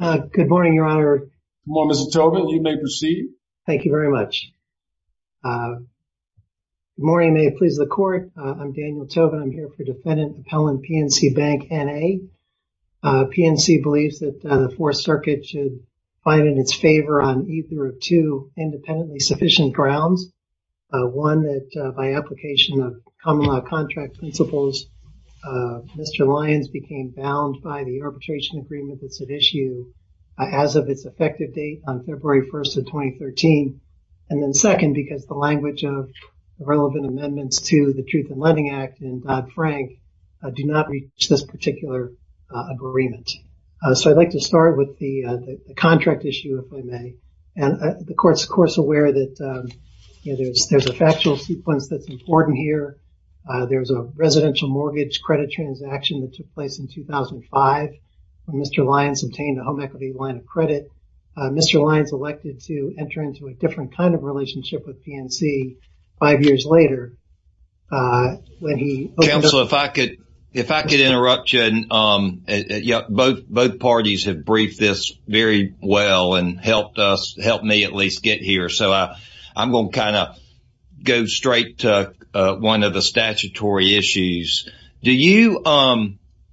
Good morning, Your Honor. Good morning, Mr. Tobin. You may proceed. Thank you very much. Good morning. May it please the Court. I'm Daniel Tobin. I'm here for Defendant Appellant PNC Bank N.A. PNC believes that the Fourth Circuit should find in its favor on either of two independently sufficient grounds. One, that by application of common law contract principles, Mr. Lyons became bound by the arbitration agreement that's at issue as of its effective date on February 1st of 2013. And then second, because the language of the relevant amendments to the Truth in Lending Act and Dodd-Frank do not reach this particular agreement. So I'd like to start with the contract issue, if I may. And the Court's, of course, aware that there's a factual sequence that's important here. There's a residential mortgage credit transaction that took place in 2005. Mr. Lyons obtained a home equity line of credit. Mr. Lyons elected to enter into a different kind of relationship with PNC five years later. Counselor, if I could interrupt you, both parties have briefed this very well and helped me at least get here. So I'm going to kind of go straight to one of the statutory issues. Do you,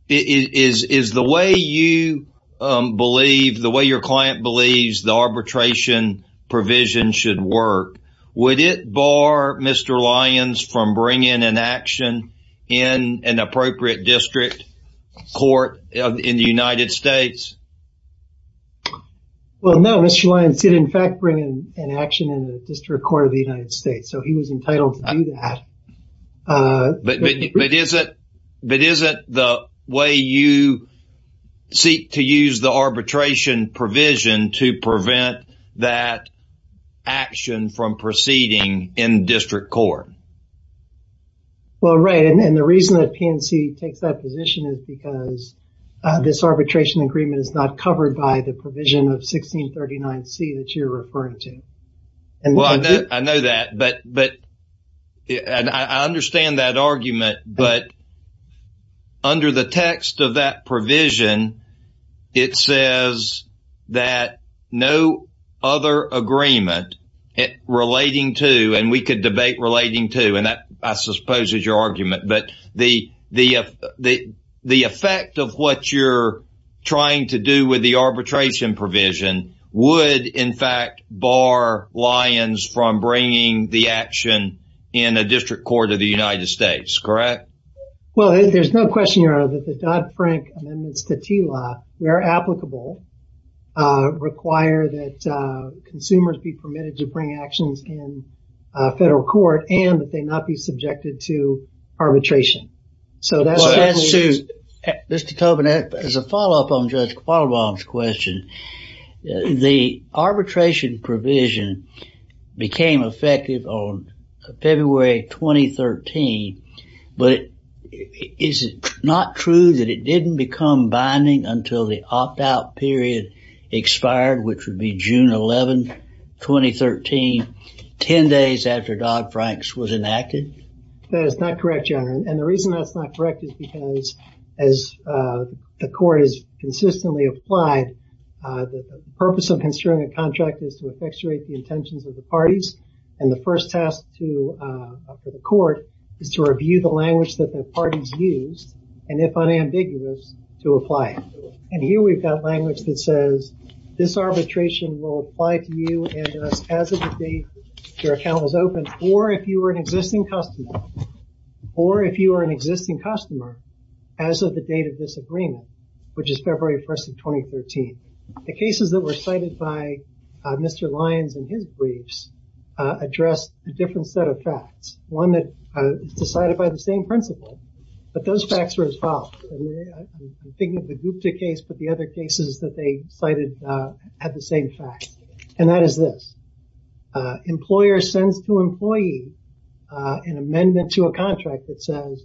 is the way you believe, the way your client believes the arbitration provision should work, would it bar Mr. Lyons from bringing an action in an appropriate district court in the United States? Well, no, Mr. Lyons did, in fact, bring an action in the District Court of the United States. So he was entitled to do that. But isn't the way you seek to use the arbitration provision to prevent that action from proceeding in district court? Well, right, and the reason that PNC takes that position is because this arbitration agreement is not covered by the provision of 1639C that you're referring to. Well, I know that, but I understand that argument. But under the text of that provision, it says that no other agreement relating to, and we could debate relating to, and that, I suppose, is your argument. But the effect of what you're trying to do with the arbitration provision would, in fact, bar Lyons from bringing the action in a district court of the United States, correct? Well, there's no question, Your Honor, that the Dodd-Frank amendments to TILA, where applicable, require that consumers be permitted to bring actions in federal court and that they not be subjected to arbitration. Mr. Tobin, as a follow-up on Judge Quattlebaum's question, the arbitration provision became effective on February 2013. But is it not true that it didn't become binding until the opt-out period expired, which would be June 11, 2013, 10 days after Dodd-Frank's was enacted? That is not correct, Your Honor. And the reason that's not correct is because, as the court has consistently applied, the purpose of construing a contract is to effectuate the intentions of the parties. And the first task for the court is to review the language that the parties used, and if unambiguous, to apply it. And here we've got language that says, this arbitration will apply to you as of the date your account was opened, or if you were an existing customer, as of the date of this agreement, which is February 1, 2013. The cases that were cited by Mr. Lyons in his briefs addressed a different set of facts, one that is decided by the same principle, but those facts were as follows. I'm thinking of the Gupta case, but the other cases that they cited had the same facts. And that is this. Employer sends to employee an amendment to a contract that says,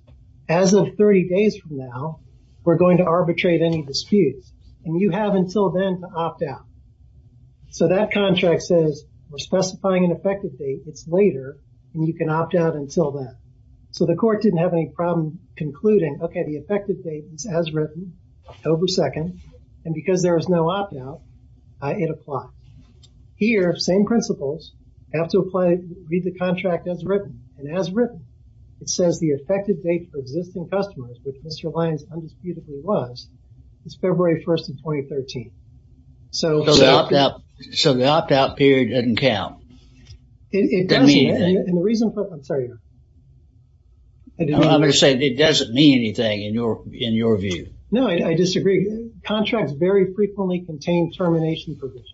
as of 30 days from now, we're going to arbitrate any disputes. And you have until then to opt out. So that contract says, we're specifying an effective date, it's later, and you can opt out until then. So the court didn't have any problem concluding, okay, the effective date is as written, October 2nd, and because there is no opt out, it applies. Here, same principles, you have to read the contract as written. And as written, it says the effective date for existing customers, which Mr. Lyons undisputedly was, is February 1, 2013. So the opt out period doesn't count. It doesn't, and the reason for, I'm sorry. I'm going to say it doesn't mean anything in your view. No, I disagree. Contracts very frequently contain termination provisions.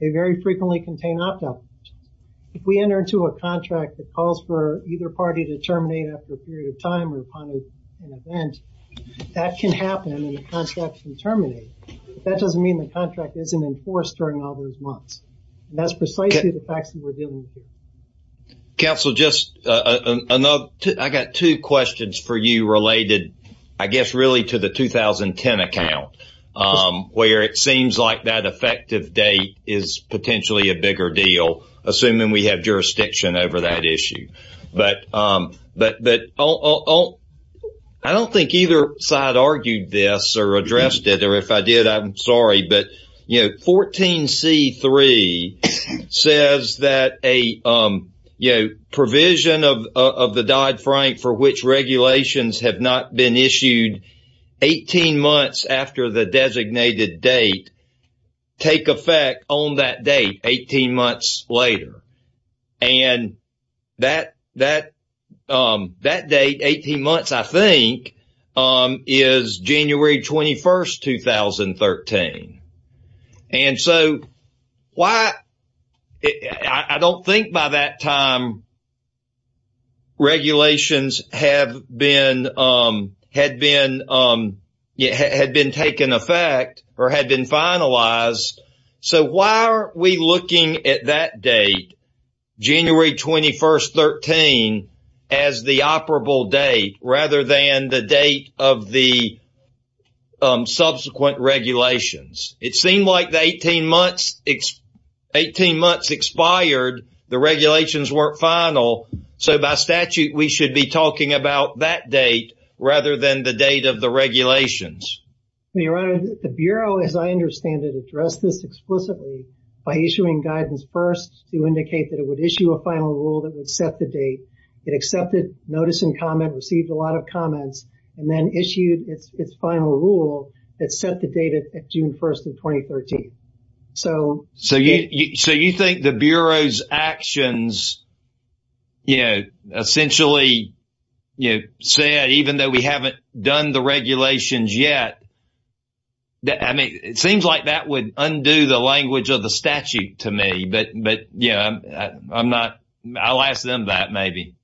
They very frequently contain opt out provisions. If we enter into a contract that calls for either party to terminate after a period of time or upon an event, that can happen and the contract can terminate. That doesn't mean the contract isn't enforced during all those months. And that's precisely the facts that we're dealing with here. Counsel, just another, I got two questions for you related, I guess, really to the 2010 account, where it seems like that effective date is potentially a bigger deal, assuming we have jurisdiction over that issue. But I don't think either side argued this or addressed it, or if I did, I'm sorry. But, you know, 14C3 says that a provision of the Dodd-Frank for which regulations have not been issued 18 months after the designated date take effect on that date 18 months later. And that date, 18 months, I think, is January 21st, 2013. And so I don't think by that time regulations had been taken effect or had been finalized. So why aren't we looking at that date, January 21st, 2013, as the operable date rather than the date of the subsequent regulations? It seemed like the 18 months expired, the regulations weren't final, so by statute we should be talking about that date rather than the date of the regulations. Your Honor, the Bureau, as I understand it, addressed this explicitly by issuing guidance first to indicate that it would issue a final rule that would set the date. It accepted notice and comment, received a lot of comments, and then issued its final rule that set the date at June 1st of 2013. So you think the Bureau's actions, you know, essentially said even though we haven't done the regulations yet, I mean, it seems like that would undo the language of the statute to me, but, you know, I'm not, I'll ask them that maybe.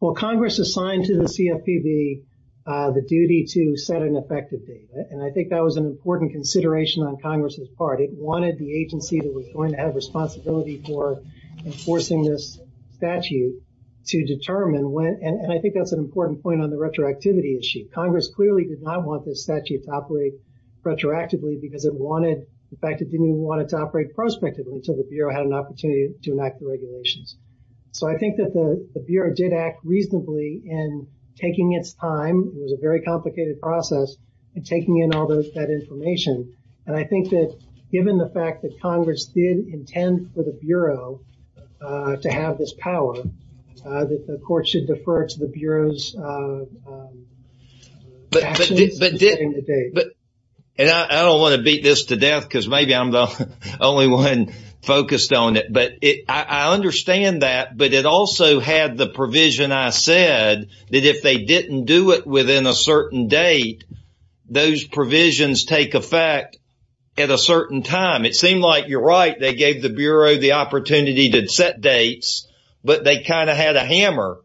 Well, Congress assigned to the CFPB the duty to set an effective date. And I think that was an important consideration on Congress's part. It wanted the agency that was going to have responsibility for enforcing this statute to determine when, and I think that's an important point on the retroactivity issue. Congress clearly did not want this statute to operate retroactively because it wanted, in fact, it didn't even want it to operate prospectively until the Bureau had an opportunity to enact the regulations. So I think that the Bureau did act reasonably in taking its time. It was a very complicated process in taking in all that information. And I think that given the fact that Congress did intend for the Bureau to have this power, that the court should defer to the Bureau's actions in setting the date. And I don't want to beat this to death because maybe I'm the only one focused on it. But I understand that. But it also had the provision I said that if they didn't do it within a certain date, those provisions take effect at a certain time. It seemed like you're right. They gave the Bureau the opportunity to set dates, but they kind of had a hammer,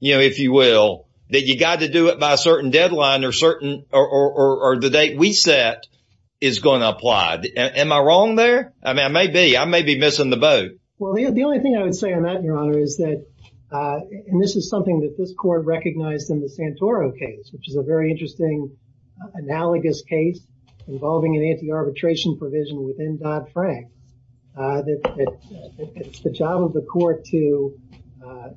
you know, if you will, that you got to do it by a certain deadline or the date we set is going to apply. Am I wrong there? I mean, I may be. I may be missing the boat. Well, the only thing I would say on that, Your Honor, is that, and this is something that this court recognized in the Santoro case, which is a very interesting analogous case involving an anti-arbitration provision within Dodd-Frank, that it's the job of the court to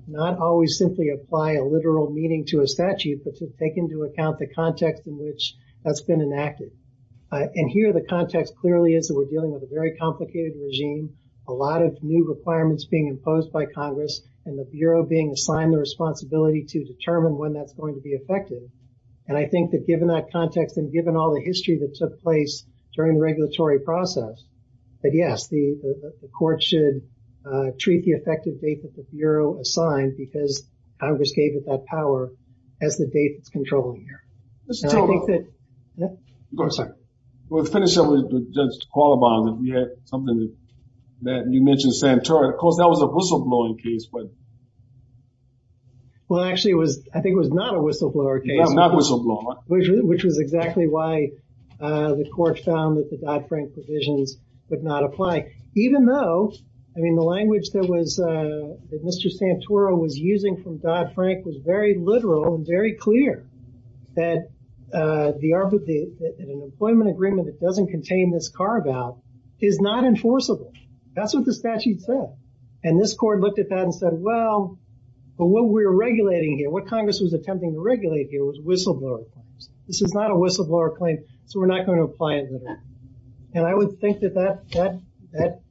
not always simply apply a literal meaning to a statute, but to take into account the context in which that's been enacted. And here the context clearly is that we're dealing with a very complicated regime, a lot of new requirements being imposed by Congress, and the Bureau being assigned the responsibility to determine when that's going to be effective. And I think that given that context and given all the history that took place during the regulatory process, that, yes, the court should treat the effective date that the Bureau assigned because Congress gave it that power as the date that's controlled here. Go ahead, sir. We'll finish up with Judge Qualibon. We had something that you mentioned Santoro. Of course, that was a whistleblowing case, but. Well, actually, I think it was not a whistleblower case. Not a whistleblower. Which was exactly why the court found that the Dodd-Frank provisions would not apply, even though, I mean, the language that Mr. Santoro was using from Dodd-Frank was very literal and very clear that an employment agreement that doesn't contain this carve-out is not enforceable. That's what the statute said. And this court looked at that and said, well, but what we're regulating here, what Congress was attempting to regulate here was whistleblower claims. This is not a whistleblower claim, so we're not going to apply it to that. And I would think that that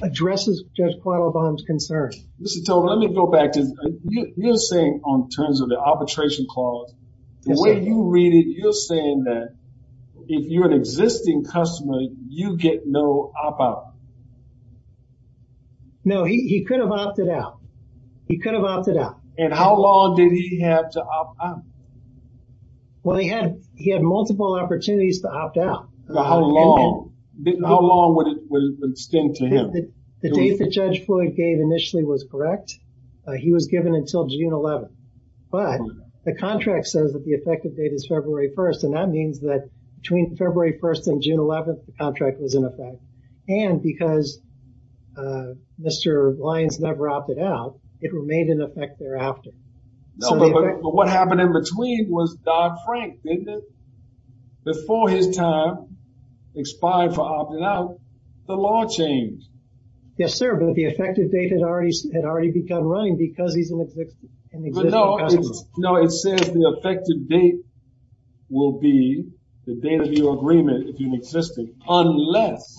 addresses Judge Qualibon's concern. Mr. Tobin, let me go back. You're saying on terms of the arbitration clause, the way you read it, you're saying that if you're an existing customer, you get no opt-out. No, he could have opted out. He could have opted out. And how long did he have to opt out? Well, he had multiple opportunities to opt out. How long? How long would it extend to him? The date that Judge Floyd gave initially was correct. He was given until June 11th. But the contract says that the effective date is February 1st, and that means that between February 1st and June 11th, the contract was in effect. And because Mr. Lyons never opted out, it remained in effect thereafter. But what happened in between was Dodd-Frank, didn't it? Before his time expired for opting out, the law changed. Yes, sir. But the effective date had already begun running because he's an existing customer. No, it says the effective date will be the date of your agreement if you're an existing unless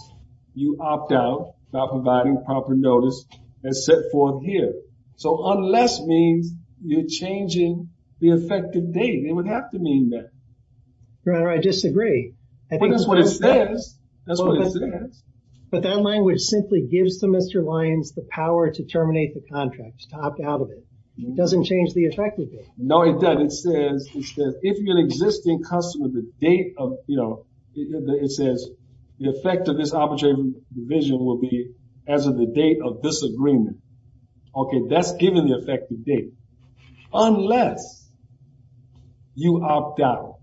you opt out without providing proper notice as set forth here. So unless means you're changing the effective date. It would have to mean that. Your Honor, I disagree. But that's what it says. That's what it says. But that language simply gives to Mr. Lyons the power to terminate the contract, to opt out of it. It doesn't change the effective date. No, it does. It says if you're an existing customer, the date of, you know, it says the effect of this arbitration division will be as of the date of this agreement. Okay, that's given the effective date. Unless you opt out.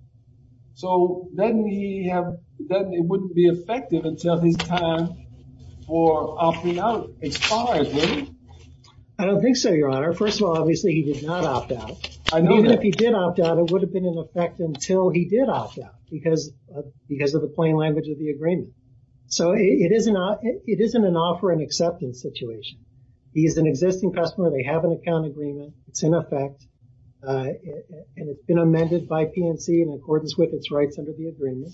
So then it wouldn't be effective until his time for opting out expires, would it? I don't think so, Your Honor. First of all, obviously he did not opt out. Even if he did opt out, it would have been in effect until he did opt out because of the plain language of the agreement. So it isn't an offer and acceptance situation. He's an existing customer. They have an account agreement. It's in effect. And it's been amended by PNC in accordance with its rights under the agreement.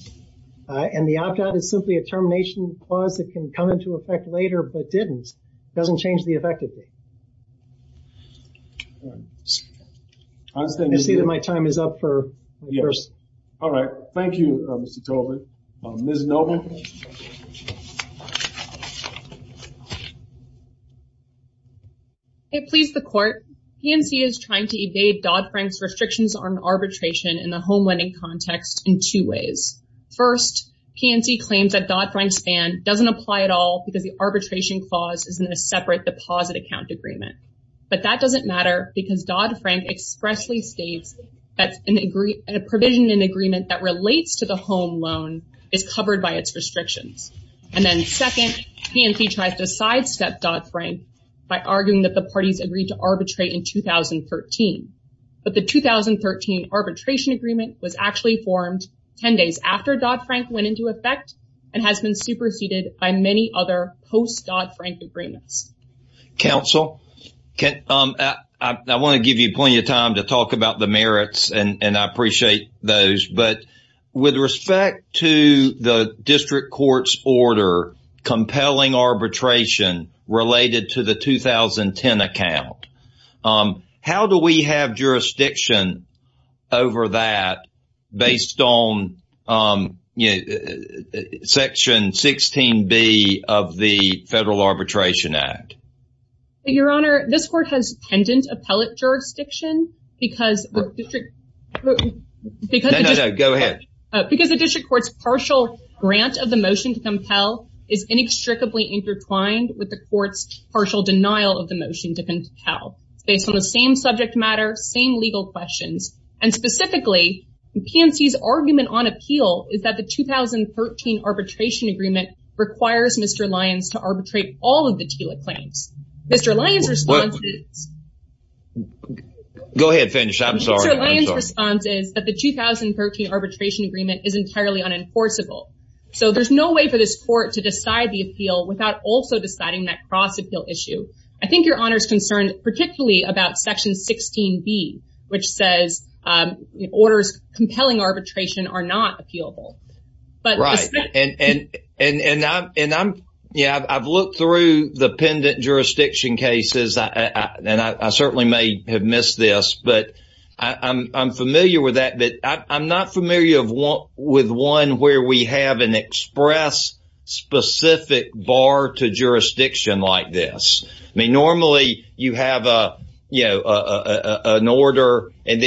And the opt out is simply a termination clause that can come into effect later but didn't. It doesn't change the effective date. I see that my time is up for the first. All right. Ms. Novick. It pleased the court. PNC is trying to evade Dodd-Frank's restrictions on arbitration in the home lending context in two ways. First, PNC claims that Dodd-Frank's ban doesn't apply at all because the arbitration clause is in a separate deposit account agreement. But that doesn't matter because Dodd-Frank expressly states that a provision in the agreement that relates to the home loan is covered by its restrictions. And then second, PNC tries to sidestep Dodd-Frank by arguing that the arbitration clause should not be used to arbitrate in 2013. But the 2013 arbitration agreement was actually formed ten days after Dodd- Frank went into effect and has been superseded by many other post-Dodd- Frank agreements. Counsel. I want to give you plenty of time to talk about the merits and I appreciate those. But with respect to the district court's order compelling arbitration related to the 2010 account, how do we have jurisdiction over that based on Section 16B of the Federal Arbitration Act? Your Honor, this court has pendent appellate jurisdiction because the district court's partial grant of the motion to compel is inextricably intertwined with the court's partial denial of the motion to compel. It's based on the same subject matter, same legal questions. And specifically, PNC's argument on appeal is that the 2013 arbitration agreement requires Mr. Lyons to arbitrate all of the TILA claims. Mr. Lyons' response is that the 2013 arbitration agreement is entirely unenforceable. So there's no way for this court to decide the appeal without also deciding that cross-appeal issue. I think Your Honor's concerned particularly about Section 16B, which says orders compelling arbitration are not appealable. Right. And I've looked through the pendent jurisdiction cases and I certainly may have missed this, but I'm familiar with that. But I'm not familiar with one where we have an express specific bar to jurisdiction like this. I mean, normally you have an order that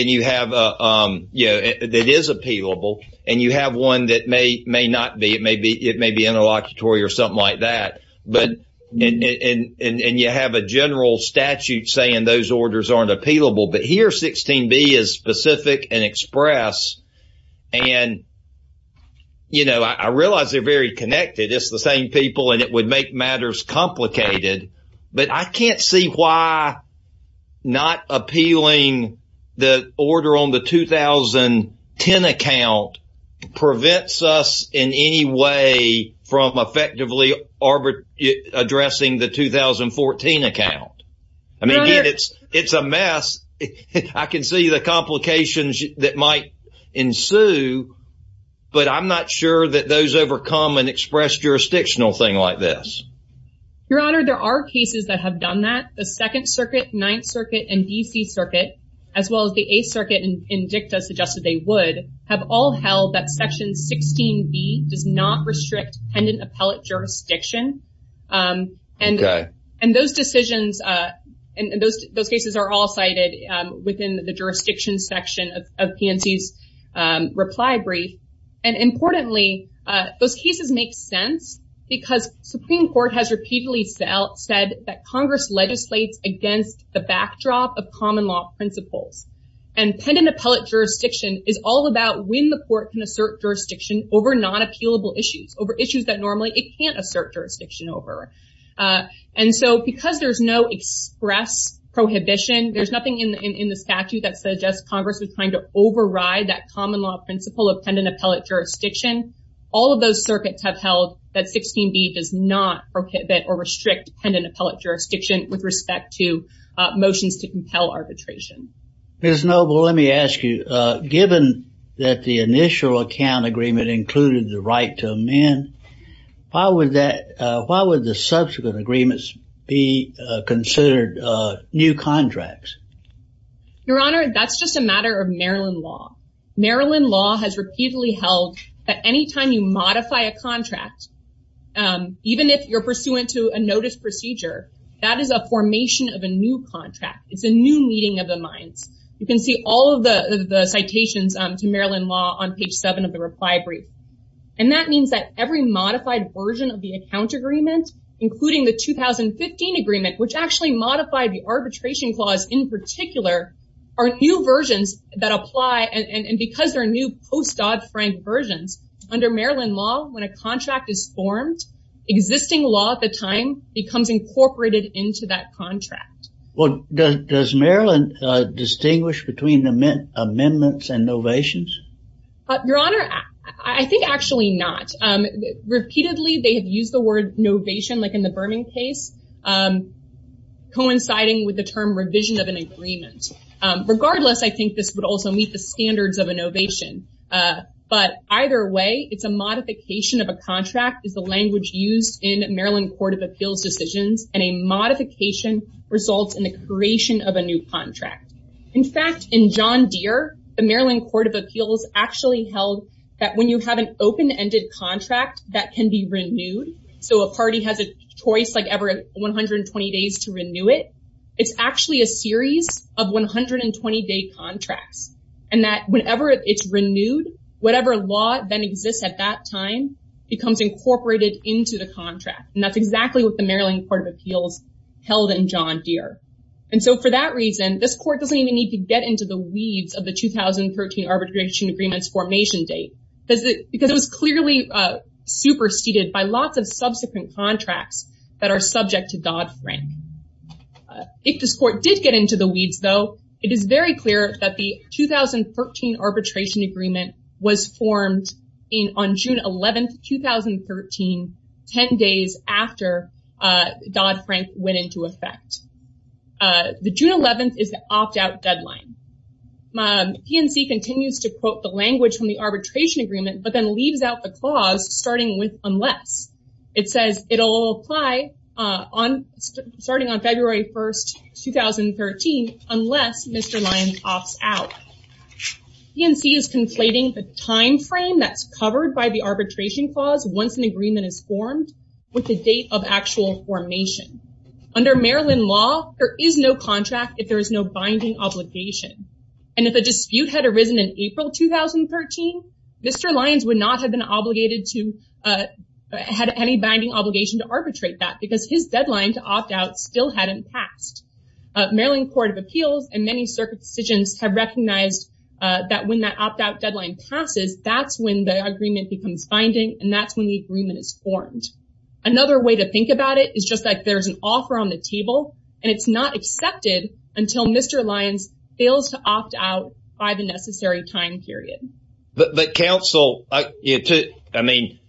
is appealable and you have one that may not be. It may be interlocutory or something like that. And you have a general statute saying those orders aren't appealable. But here 16B is specific and express and, you know, I realize they're very connected. It's the same people and it would make matters complicated. But I can't see why not appealing the order on the 2010 account prevents us in any way from effectively addressing the 2014 account. I mean, again, it's a mess. I can see the complications that might ensue, but I'm not sure that those overcome an express jurisdictional thing like this. Your Honor, there are cases that have done that. The Second Circuit, Ninth Circuit, and D.C. Circuit, as well as the Eighth Circuit in DICTA suggested they would, have all held that Section 16B does not restrict pendent appellate jurisdiction. Okay. And those decisions and those cases are all cited within the jurisdiction section of PNC's reply brief. And importantly, those cases make sense because Supreme Court has repeatedly said that Congress legislates against the backdrop of common law principles. And pendent appellate jurisdiction is all about when the court can assert jurisdiction over non-appealable issues, over issues that normally it can't assert jurisdiction over. And so, because there's no express prohibition, there's nothing in the statute that suggests Congress is trying to override that common law principle of pendent appellate jurisdiction. All of those circuits have held that 16B does not prohibit or restrict pendent appellate jurisdiction with respect to motions to compel arbitration. Ms. Noble, let me ask you, given that the initial account agreement included the right to amend, why would the subsequent agreements be considered new contracts? Your Honor, that's just a matter of Maryland law. Maryland law has repeatedly held that any time you modify a contract, even if you're pursuant to a notice procedure, that is a formation of a new contract. It's a new meeting of the minds. You can see all of the citations to Maryland law on page 7 of the reply brief. And that means that every modified version of the account agreement, including the 2015 agreement, which actually modified the arbitration clause in particular, are new versions that apply. And because they're new post-Dodd-Frank versions, under Maryland law, when a contract is formed, existing law at the time becomes incorporated into that contract. Well, does Maryland distinguish between amendments and novations? Your Honor, I think actually not. Repeatedly they have used the word novation, like in the Berman case, coinciding with the term revision of an agreement. Regardless, I think this would also meet the standards of a novation. But either way, it's a modification of a contract is the language used in the creation of a new contract. In fact, in John Deere, the Maryland Court of Appeals actually held that when you have an open-ended contract that can be renewed, so a party has a choice like every 120 days to renew it, it's actually a series of 120-day contracts, and that whenever it's renewed, whatever law then exists at that time becomes incorporated into the contract. And that's exactly what the Maryland Court of Appeals held in John Deere. And so for that reason, this court doesn't even need to get into the weeds of the 2013 arbitration agreement's formation date because it was clearly superseded by lots of subsequent contracts that are subject to Dodd-Frank. If this court did get into the weeds, though, it is very clear that the Dodd-Frank went into effect. The June 11th is the opt-out deadline. PNC continues to quote the language from the arbitration agreement but then leaves out the clause starting with unless. It says it'll apply starting on February 1st, 2013 unless Mr. Lyons opts out. PNC is conflating the time frame that's covered by the arbitration clause once an agreement is formed with the date of actual formation. Under Maryland law, there is no contract if there is no binding obligation. And if a dispute had arisen in April 2013, Mr. Lyons would not have been obligated to have any binding obligation to arbitrate that because his deadline to opt out still hadn't passed. Maryland Court of Appeals and many circuit decisions have recognized that when that opt-out deadline passes, that's when the agreement becomes binding and that's when the agreement is formed. Another way to think about it is just like there's an offer on the table and it's not accepted until Mr. Lyons fails to opt out by the necessary time period. But counsel, I mean,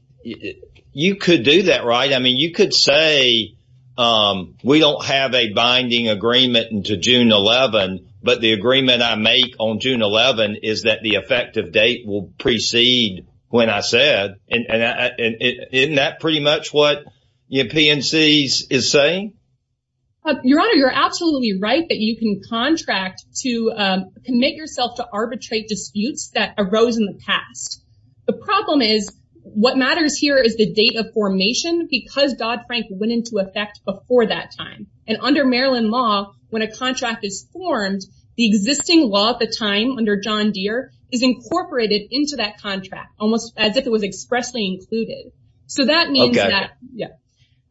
you could do that, right? I mean, you could say we don't have a binding agreement until June 11, but the agreement I make on June 11 is that the effective date will precede when I said. Isn't that pretty much what PNC is saying? Your Honor, you're absolutely right that you can contract to commit yourself to arbitrate disputes that arose in the past. The problem is what matters here is the date of formation because Dodd-Frank went into effect before that time. And under Maryland law, when a contract is formed, the existing law at the time under John Deere is incorporated into that contract, almost as if it was expressly included. So that means that, yeah.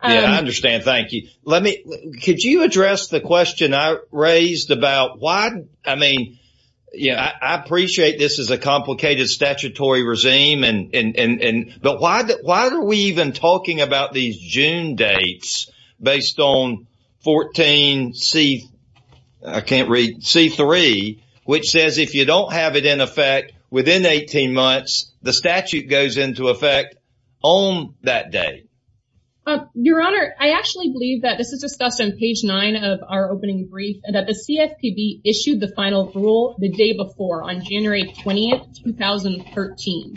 Yeah, I understand. Thank you. Let me, could you address the question I raised about why, I mean, I appreciate this is a complicated statutory regime, but why are we even talking about these June dates based on 14C, I can't read, C3, which says if you don't have it in effect within 18 months, the statute goes into effect on that date. Your Honor, I actually believe that this is discussed on page 9 of our opening brief, that the CFPB issued the final rule the day before, on January 20, 2013.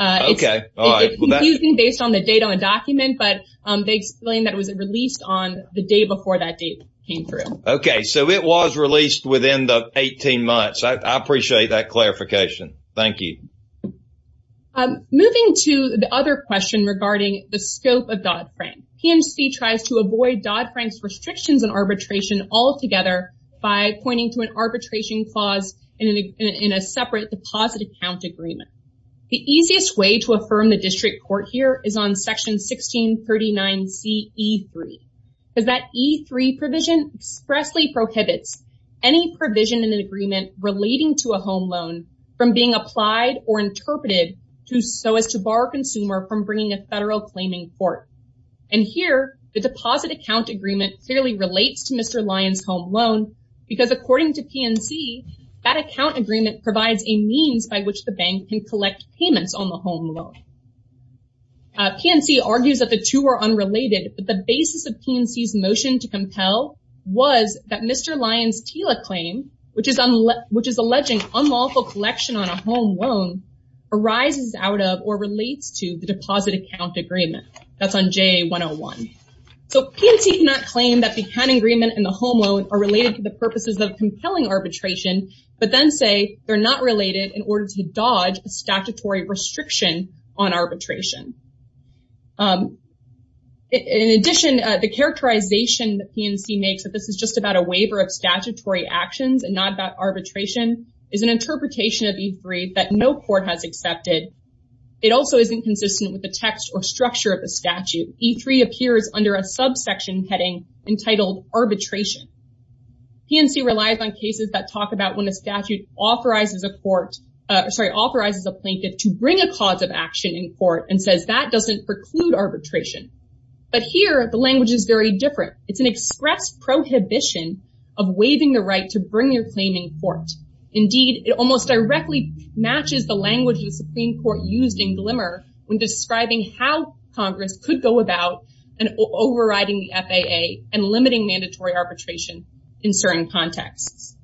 Okay. It's confusing based on the date on the document, but they explain that it was released on the day before that date came through. Okay. So it was released within the 18 months. I appreciate that clarification. Thank you. Moving to the other question regarding the scope of Dodd-Frank, PMC tries to avoid Dodd-Frank's restrictions on arbitration altogether by pointing to an arbitration clause in a separate deposit account agreement. The easiest way to affirm the district court here is on Section 1639CE3. Because that E3 provision expressly prohibits any provision in an agreement relating to a home loan from being applied or interpreted so as to bar consumer from bringing a federal claiming court. And here, the deposit account agreement clearly relates to Mr. Lyon's home loan because according to PMC, that account agreement provides a means by which the bank can collect payments on the home loan. Okay. PMC argues that the two are unrelated, but the basis of PMC's motion to compel was that Mr. Lyon's TILA claim, which is alleging unlawful collection on a home loan, arises out of or relates to the deposit account agreement. That's on JA101. So PMC cannot claim that the account agreement and the home loan are related to the purposes of compelling arbitration, but then say they're not related in order to dodge statutory restriction on arbitration. In addition, the characterization that PMC makes that this is just about a waiver of statutory actions and not about arbitration is an interpretation of E3 that no court has accepted. It also isn't consistent with the text or structure of the statute. E3 appears under a subsection heading entitled arbitration. PMC relies on cases that talk about when a statute authorizes a court, sorry, authorizes a plaintiff to bring a cause of action in court and says that doesn't preclude arbitration. But here the language is very different. It's an express prohibition of waiving the right to bring your claim in court. Indeed, it almost directly matches the language of the Supreme court used in glimmer when describing how Congress could go about and overriding the FAA and the FAA. So it's a very different interpretation in certain contexts.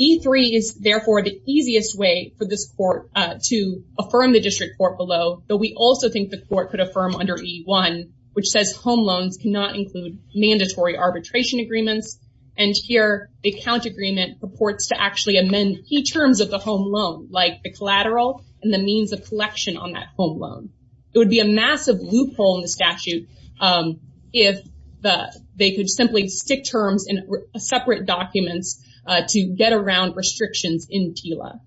E3 is therefore the easiest way for this court to affirm the district court below, but we also think the court could affirm under E1 which says home loans cannot include mandatory arbitration agreements. And here the account agreement purports to actually amend key terms of the home loan, like the collateral and the means of collection on that home loan. It would be a massive loophole in the statute. If the, they could simply stick terms in separate documents to get around restrictions in Tila.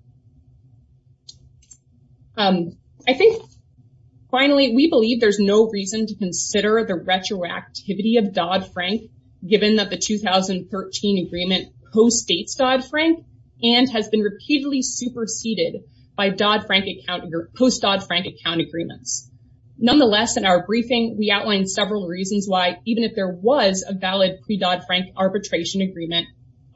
I think finally, we believe there's no reason to consider the retroactivity of Dodd-Frank given that the 2013 agreement postdates Dodd-Frank and has been repeatedly superseded by Dodd-Frank account or post Dodd-Frank account agreements. Nonetheless, in our briefing we outlined several reasons why even if there was a valid pre-Dodd-Frank arbitration agreement,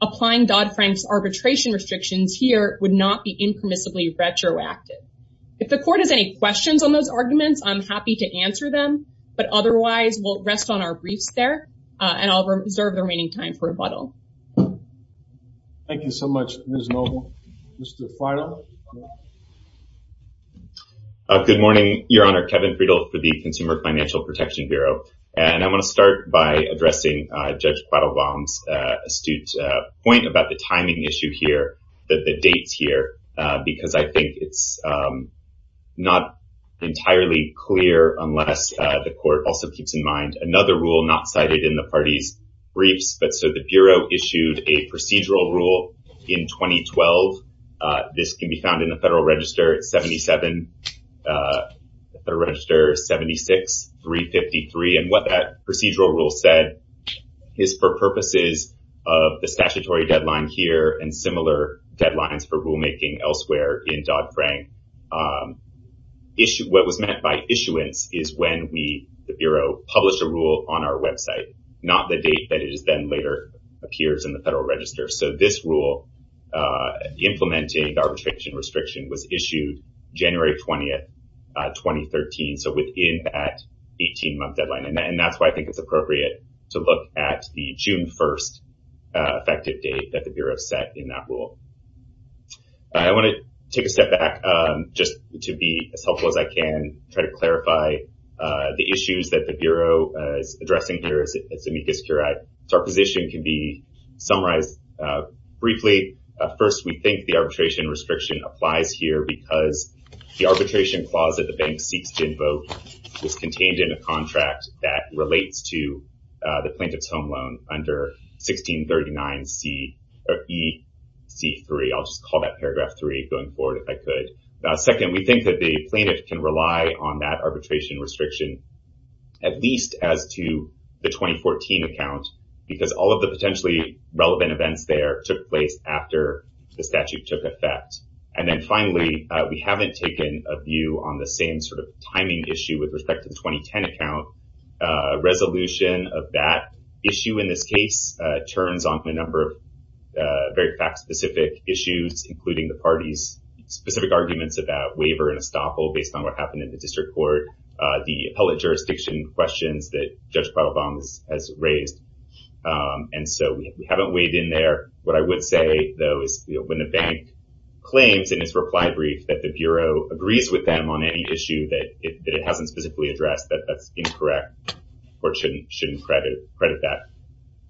applying Dodd-Frank's arbitration restrictions here would not be impermissibly retroactive. If the court has any questions on those arguments, I'm happy to answer them, but otherwise we'll rest on our briefs there and I'll reserve the remaining time for rebuttal. Thank you so much, Ms. Noble. Mr. Farrell. Good morning, Your Honor, Kevin Friedel for the Consumer Financial Protection Bureau. And I want to start by addressing Judge Quattlebaum's astute point about the timing issue here that the dates here, because I think it's not entirely clear unless the court also keeps in mind another rule not cited in the parties briefs, but so the Bureau issued a procedural rule in 2012. This can be found in the Federal Register. It's 77, the Register 76-353 and what that procedural rule said is for purposes of the statutory deadline here and similar deadlines for rulemaking elsewhere in Dodd-Frank. What was meant by issuance is when we, the Bureau published a rule on our website, not the date that it is then later appears in the Federal Register. So this rule, implementing the arbitration restriction was issued January 20th, 2013. So within that 18 month deadline, and that's why I think it's appropriate to look at the June 1st effective date that the Bureau set in that rule. I want to take a step back just to be as helpful as I can try to clarify the issues that the Bureau is addressing here at Zemeckis Curat. So our position can be summarized briefly. First, we think the arbitration restriction applies here because the arbitration clause that the bank seeks to invoke is contained in a contract that relates to the plaintiff's home loan under 1639 C or E C3. I'll just call that paragraph three going forward. If I could second, we think that the plaintiff can rely on that arbitration restriction at least as to the 2014 account because all of the potentially relevant events there took place after the statute took effect. And then finally, we haven't taken a view on the same sort of timing issue with respect to the 2010 account. A resolution of that issue in this case turns on the number of very fact specific issues, including the parties specific arguments about waiver and estoppel based on what happened in the district court. The appellate jurisdiction questions that Judge Pavlov has raised. And so we haven't weighed in there. What I would say though, is when the bank claims in its reply brief that the Bureau agrees with them on any issue that it hasn't specifically addressed, that that's incorrect or shouldn't credit that.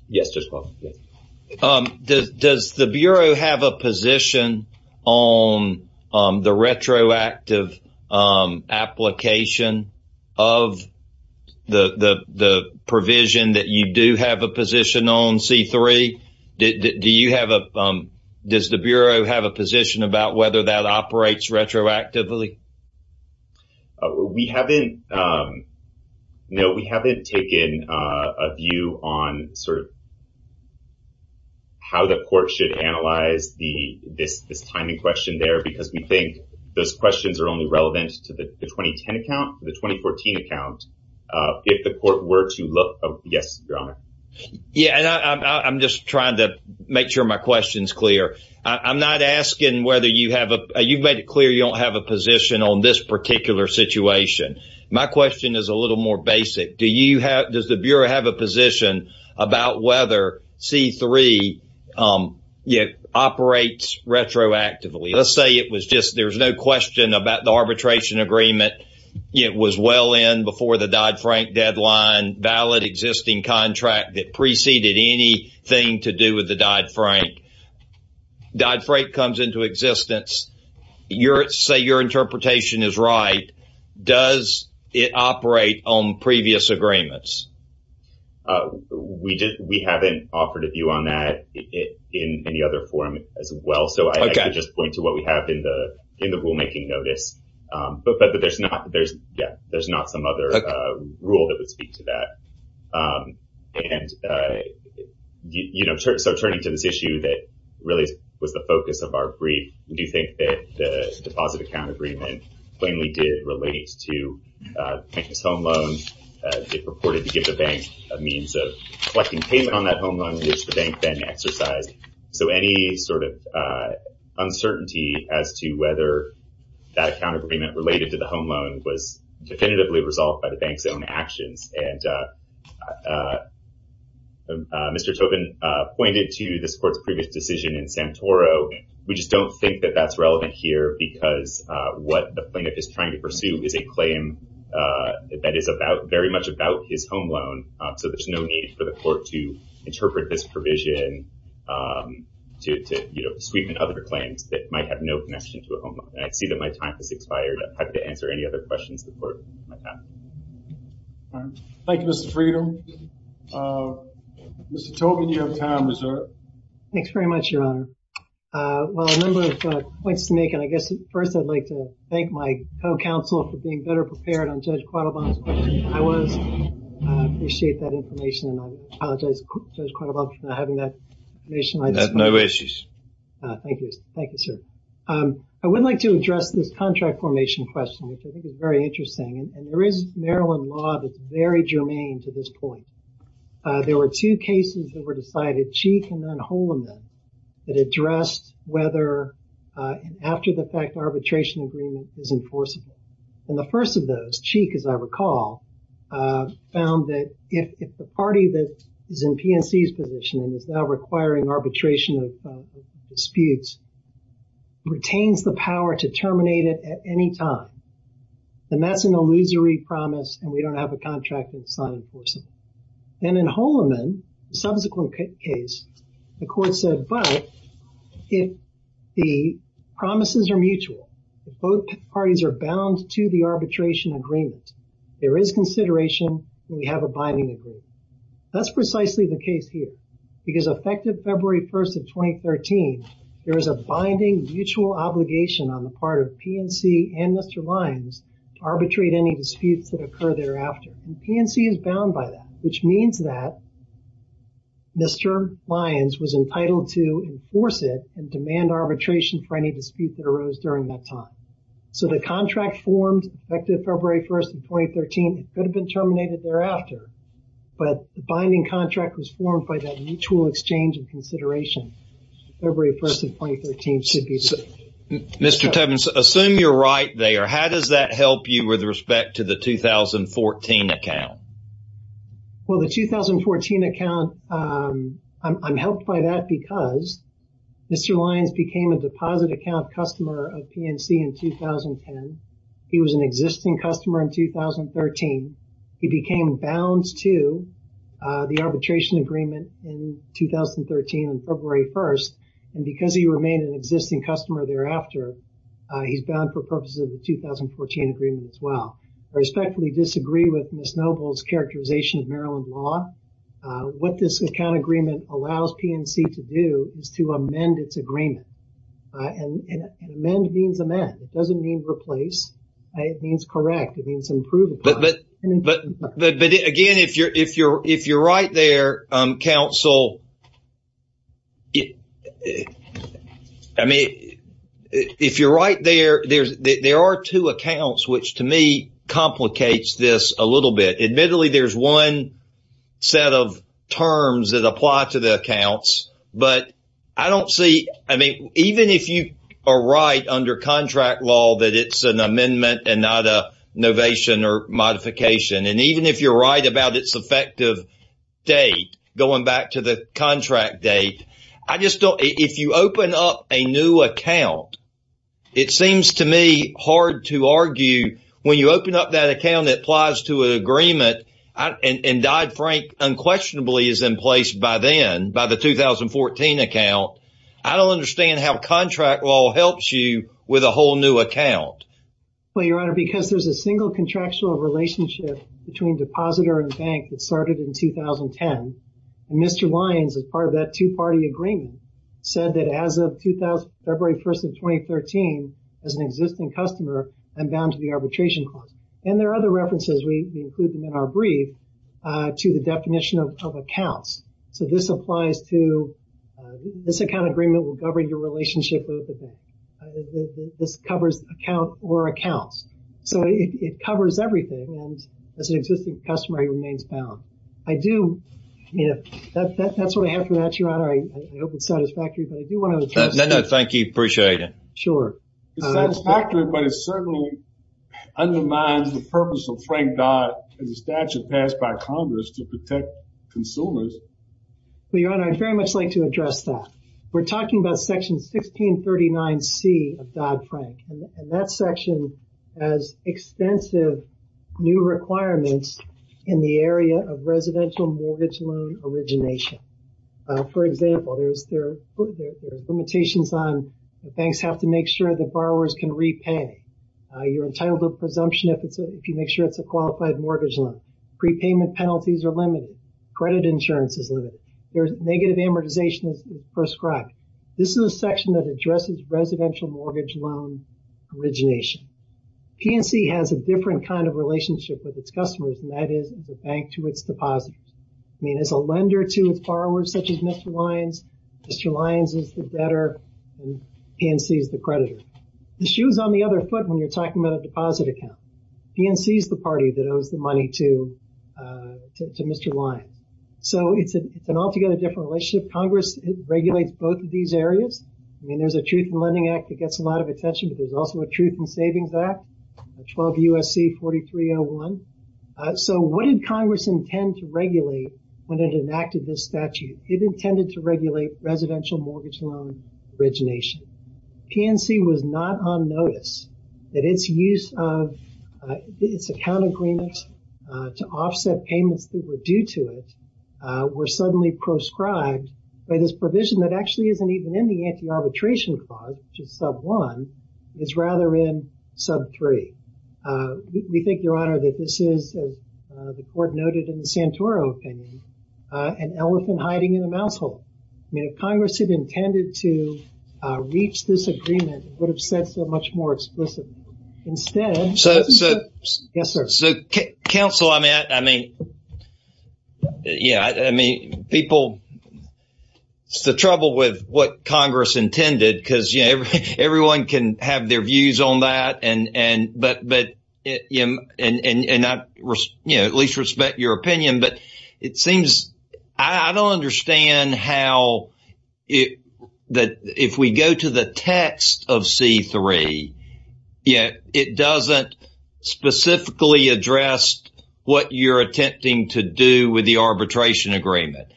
Yes, Judge Paul. Does the Bureau have a position on the retroactive application? Of the provision that you do have a position on C3, do you have a, does the Bureau have a position about whether that operates retroactively? We haven't, no, we haven't taken a view on sort of how the court should analyze the, this, this timing question there because we think those questions are only relevant to the 2010 account, the 2014 account. If the court were to look, yes, Your Honor. Yeah. And I'm just trying to make sure my question's clear. I'm not asking whether you have a, you've made it clear you don't have a position on this particular situation. My question is a little more basic. Do you have, does the Bureau have a position about whether C3 operates retroactively? Let's say it was just, there was no question about the arbitration agreement. It was well in before the Dodd-Frank deadline, valid existing contract that preceded anything to do with the Dodd-Frank. Dodd-Frank comes into existence. Say your interpretation is right. Does it operate on previous agreements? We haven't offered a view on that in any other forum as well. So I can just point to what we have in the, in the rulemaking notice. But there's not, there's yeah, there's not some other rule that would speak to that. And, you know, so turning to this issue that really was the focus of our brief, do you think that the deposit account agreement plainly did relate to bankless home loans? It purported to give the bank a means of collecting payment on that home loan, which the bank then exercised. So any sort of uncertainty as to whether that account agreement related to the home loan was definitively resolved by the bank's own actions. And, Mr. Tobin pointed to this court's previous decision in Santoro. We just don't think that that's relevant here because what the plaintiff is trying to pursue is a claim that is about very much about his home loan. So there's no need for the court to interpret this provision to, you know, sweeten other claims that might have no connection to a home loan. And I see that my time has expired. I'm happy to answer any other questions the court might have. Thank you, Mr. Freedom. Mr. Tobin, you have time reserved. Thanks very much, Your Honor. Well, a number of points to make, and I guess first I'd like to thank my co-counsel for being better prepared on Judge Quattlebaum's question than I was. I appreciate that information. And I apologize, Judge Quattlebaum, for not having that information. I have no issues. Thank you. Thank you, sir. I would like to address this contract formation question, which I think is very interesting. And there is Maryland law that's very germane to this point. There were two cases that were decided, Cheek and then Holman, that addressed whether after the fact arbitration agreement is enforceable. And the first of those, Cheek, as I recall, found that if the party that is in PNC's position and is now requiring arbitration of disputes, retains the power to terminate it at any time, then that's an illusory promise and we don't have a contract that's not enforceable. And in Holman, the subsequent case, the court said, but if the promises are mutual, if both parties are bound to the arbitration agreement, there is consideration that we have a binding agreement. That's precisely the case here because effective February 1st of 2013, there is a binding mutual obligation on the part of PNC and Mr. Lyons to arbitrate any disputes that occur thereafter. And PNC is bound by that, which means that Mr. Lyons was entitled to enforce it and demand arbitration for any disputes that occurred at that time. So the contract formed effective February 1st of 2013 could have been terminated thereafter, but the binding contract was formed by that mutual exchange of consideration February 1st of 2013 should be. Mr. Tubman, assume you're right there. How does that help you with respect to the 2014 account? Well, the 2014 account, I'm helped by that because Mr. Lyons was a deposit account customer of PNC in 2010. He was an existing customer in 2013. He became bound to the arbitration agreement in 2013 on February 1st. And because he remained an existing customer thereafter, he's bound for purposes of the 2014 agreement as well. I respectfully disagree with Ms. Noble's characterization of Maryland law. What this account agreement allows PNC to do is to amend its agreement. And amend means amend. It doesn't mean replace. It means correct. It means improve upon. But again, if you're right there, counsel, I mean, if you're right there, there are two accounts, which to me complicates this a little bit. Admittedly, there's one set of terms that apply to the accounts, but I don't see, I mean, even if you are right under contract law, that it's an amendment and not a novation or modification. And even if you're right about its effective date, going back to the contract date, I just don't, if you open up a new account, it seems to me hard to argue. When you open up that account that applies to an agreement, and Dodd-Frank unquestionably is in place by then, by the 2014 account, I don't understand how contract law helps you with a whole new account. Well, Your Honor, because there's a single contractual relationship between depositor and bank that started in 2010, and Mr. Lyons, as part of that two-party agreement, said that as of February 1st of 2013, as an existing customer, I'm bound to the arbitration clause. And there are other references, we include them in our brief, to the definition of accounts. So this applies to, this account agreement will govern your relationship with the bank. This covers account or accounts. So it covers everything, and as an existing customer, he remains bound. I do, that's what I have for that, Your Honor. I hope it's satisfactory, but I do want to address that. No, no, thank you. Appreciate it. Sure. It's satisfactory, but it certainly undermines the purpose of Frank Dodd and the statute passed by Congress to protect consumers. Well, Your Honor, I'd very much like to address that. We're talking about Section 1639C of Dodd-Frank, and that section has extensive new requirements in the area of residential mortgage loan origination. For example, there's limitations on, banks have to make sure that borrowers can repay. You're entitled to a presumption if you make sure it's a qualified mortgage loan. Prepayment penalties are limited. Credit insurance is limited. Negative amortization is prescribed. This is a section that addresses residential mortgage loan origination. PNC has a different kind of relationship with its customers, and that is, it's a bank to its depositors. I mean, it's a lender to its borrowers, such as Mr. Lyons. Mr. Lyons is the debtor, and PNC is the creditor. The shoe's on the other foot when you're talking about a deposit account. PNC is the party that owes the money to Mr. Lyons. So, it's an altogether different relationship. Congress regulates both of these areas. I mean, there's a Truth in Lending Act that gets a lot of attention, but there's also a Truth in Savings Act, 12 U.S.C. 4301. So, what did Congress intend to regulate when it enacted this statute? It intended to regulate residential mortgage loan origination. PNC was not on notice that its use of, its account agreements to offset payments that were due to it were suddenly proscribed by this provision that actually isn't even in the Anti-Arbitration Clause, which is Sub 1. It's rather in Sub 3. We think, Your Honor, that this is, as the Court noted in the Santoro opinion, an elephant hiding in a mouse hole. I mean, if Congress had intended to reach this agreement, it would have said so much more explicitly. Instead... So... Yes, sir. So, counsel, I mean, yeah, I mean, people, it's the trouble with what Congress intended because, you know, everyone can have their views on that and, but, you know, and I, you know, at least respect your opinion, but it seems I don't understand how it, that if we go to the text of C-3, you know, it doesn't specifically address what you're attempting to do with the arbitration agreement.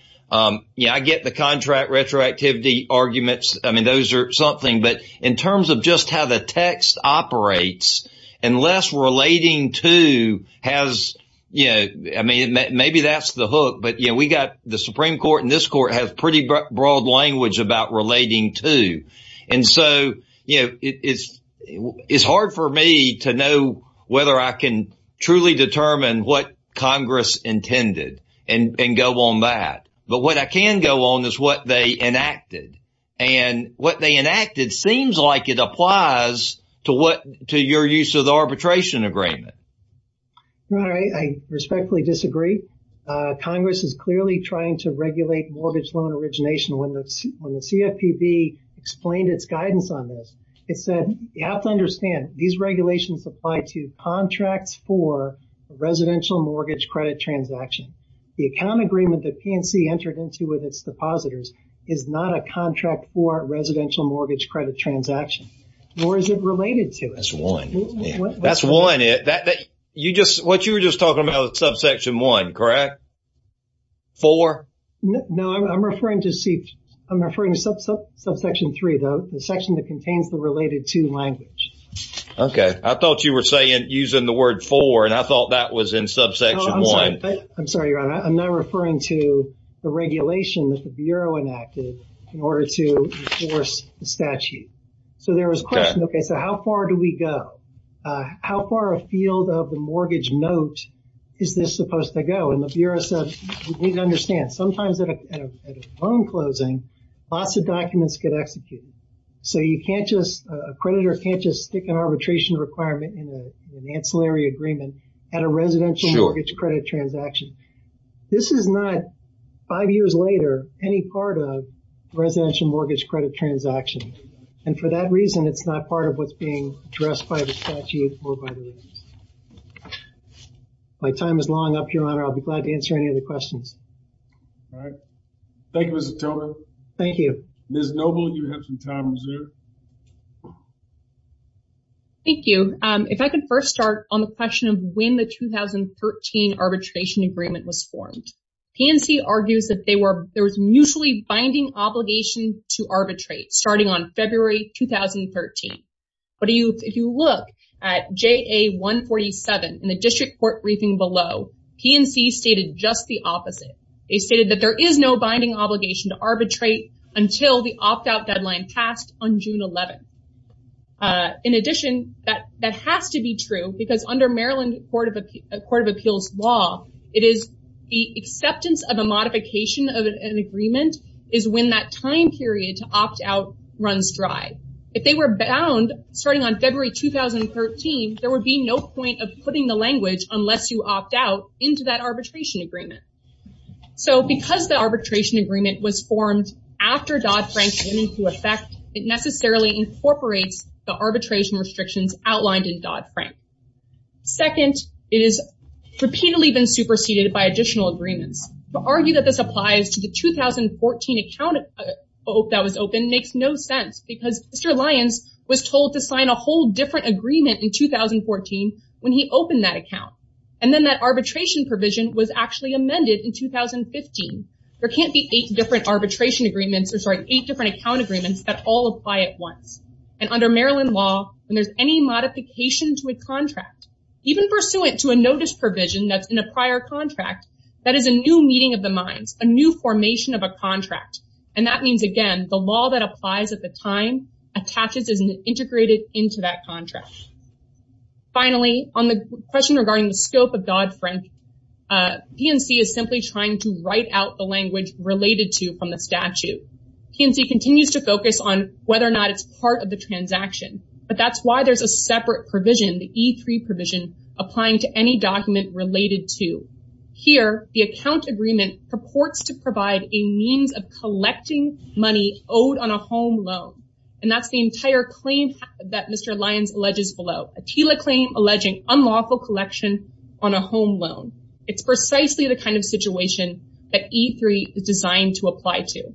Yeah, I get the contract retroactivity arguments. I mean, those are something, but in terms of just how the text operates, unless relating to has, you know, I mean, maybe that's the hook, but, you know, we got the Supreme Court and this Court has pretty broad language about relating to. And so, you know, it's hard for me to know whether I can truly determine what Congress intended and go on that. But what I can go on is what they enacted. And what they enacted seems like it applies to what, to your use of the arbitration agreement. Right. I respectfully disagree. Congress is clearly trying to regulate mortgage loan origination when the CFPB explained its guidance on this. It said, you have to understand these regulations apply to contracts for residential mortgage credit transaction. The account agreement that PNC entered into with its depositors is not a contract for residential mortgage credit transaction. Nor is it related to it. That's one. That's one. You just, what you were just talking about is subsection one, correct? Four? No, I'm referring to subsection three, though. The section that contains the related to language. Okay. I thought you were saying, using the word four and I thought that was in subsection one. I'm sorry, Your Honor. I'm not referring to the regulation that the Bureau enacted in order to enforce the statute. Okay. So there was a question, okay, so how far do we go? How far a field of the mortgage note is this supposed to go? And the Bureau said, you need to understand, sometimes at a loan closing, lots of documents get executed. So you can't just, a creditor can't just stick an arbitration requirement in an ancillary agreement at a residential mortgage credit transaction. This is not, five years later, any part of residential mortgage credit transaction. And for that reason, it's not part of what's being addressed by the statute or by the IRS. My time is long up, Your Honor. I'll be glad to answer any of the questions. All right. Thank you, Mr. Tolman. Thank you. Ms. Noble, you have some time to answer. Thank you. If I could first start on the question of when the 2013 arbitration agreement was formed. PNC argues that they were, there was mutually binding obligation to arbitrate starting on February 2013. But if you look at JA 147 in the district court briefing below, PNC stated just the opposite. They stated that there is no binding obligation to arbitrate until the opt-out deadline passed on June 11th. In addition, that has to be true because under Maryland Court of Appeals law, it is the acceptance of a modification of an agreement is when that time period to opt-out runs dry. If they were bound starting on February 2013, there would be no point of putting the language unless you opt-out into that arbitration agreement. So because the arbitration agreement was formed after Dodd-Frank case went into effect, it necessarily incorporates the arbitration restrictions outlined in Dodd-Frank. Second, it has repeatedly been superseded by additional agreements. To argue that this applies to the 2014 account that was opened makes no sense because Mr. Lyons was told to sign a whole different agreement in 2014 when he opened that account. And then that arbitration provision was actually amended in 2015. There can't be eight different arbitration agreements or sorry, eight different account agreements that all apply at once. And under Maryland law, when there's any modification to a contract, even pursuant to a notice provision that's in a prior contract, that is a new meeting of the minds, a new formation of a contract. And that means, again, the law that applies at the time attaches as an integrated into that contract. Finally, on the question regarding the scope of Dodd-Frank, DNC is simply trying to write out the language that's related to from the statute. DNC continues to focus on whether or not it's part of the transaction. But that's why there's a separate provision, the E3 provision, applying to any document related to. Here, the account agreement purports to provide a means of collecting money owed on a home loan. And that's the entire claim that Mr. Lyons alleges below. A TILA claim alleging unlawful collection on a home loan. It's precisely the kind of situation that E3 is designed to apply to.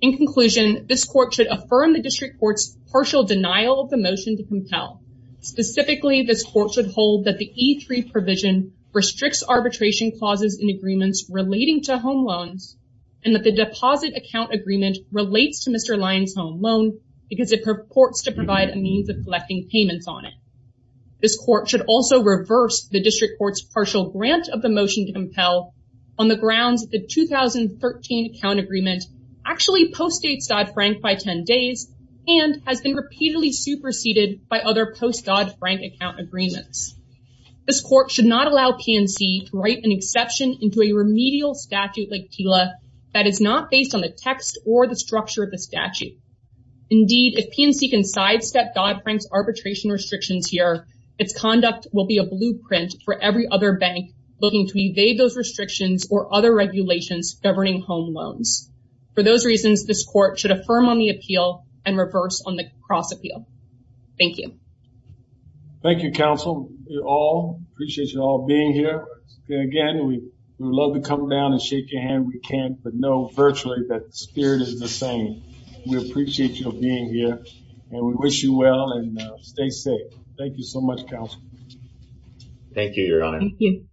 In conclusion, this court should affirm the district court's partial denial of the motion to compel. Specifically, this court should hold that the E3 provision restricts arbitration clauses in agreements relating to home loans and that the deposit account agreement relates to Mr. Lyons' home loan because it purports to provide a means of collecting payments on it. This court should also reverse the district court's position on the grounds that the 2013 account agreement actually postdates Dodd-Frank by 10 days and has been repeatedly superseded by other post-Dodd-Frank account agreements. This court should not allow PNC to write an exception into a remedial statute like TILA that is not based on the text or the structure of the statute. Indeed, if PNC can sidestep Dodd-Frank's arbitration restrictions here, its conduct will be a blueprint for every other bank looking to evade those restrictions or other regulations governing home loans. For those reasons, this court should affirm on the appeal and reverse on the cross-appeal. Thank you. Thank you, counsel. We all appreciate you all being here. Again, we would love to come down and shake your hand if we can, but know virtually that the spirit is the same. We appreciate you being here and we wish you well and stay safe. Thank you so much, counsel. Thank you,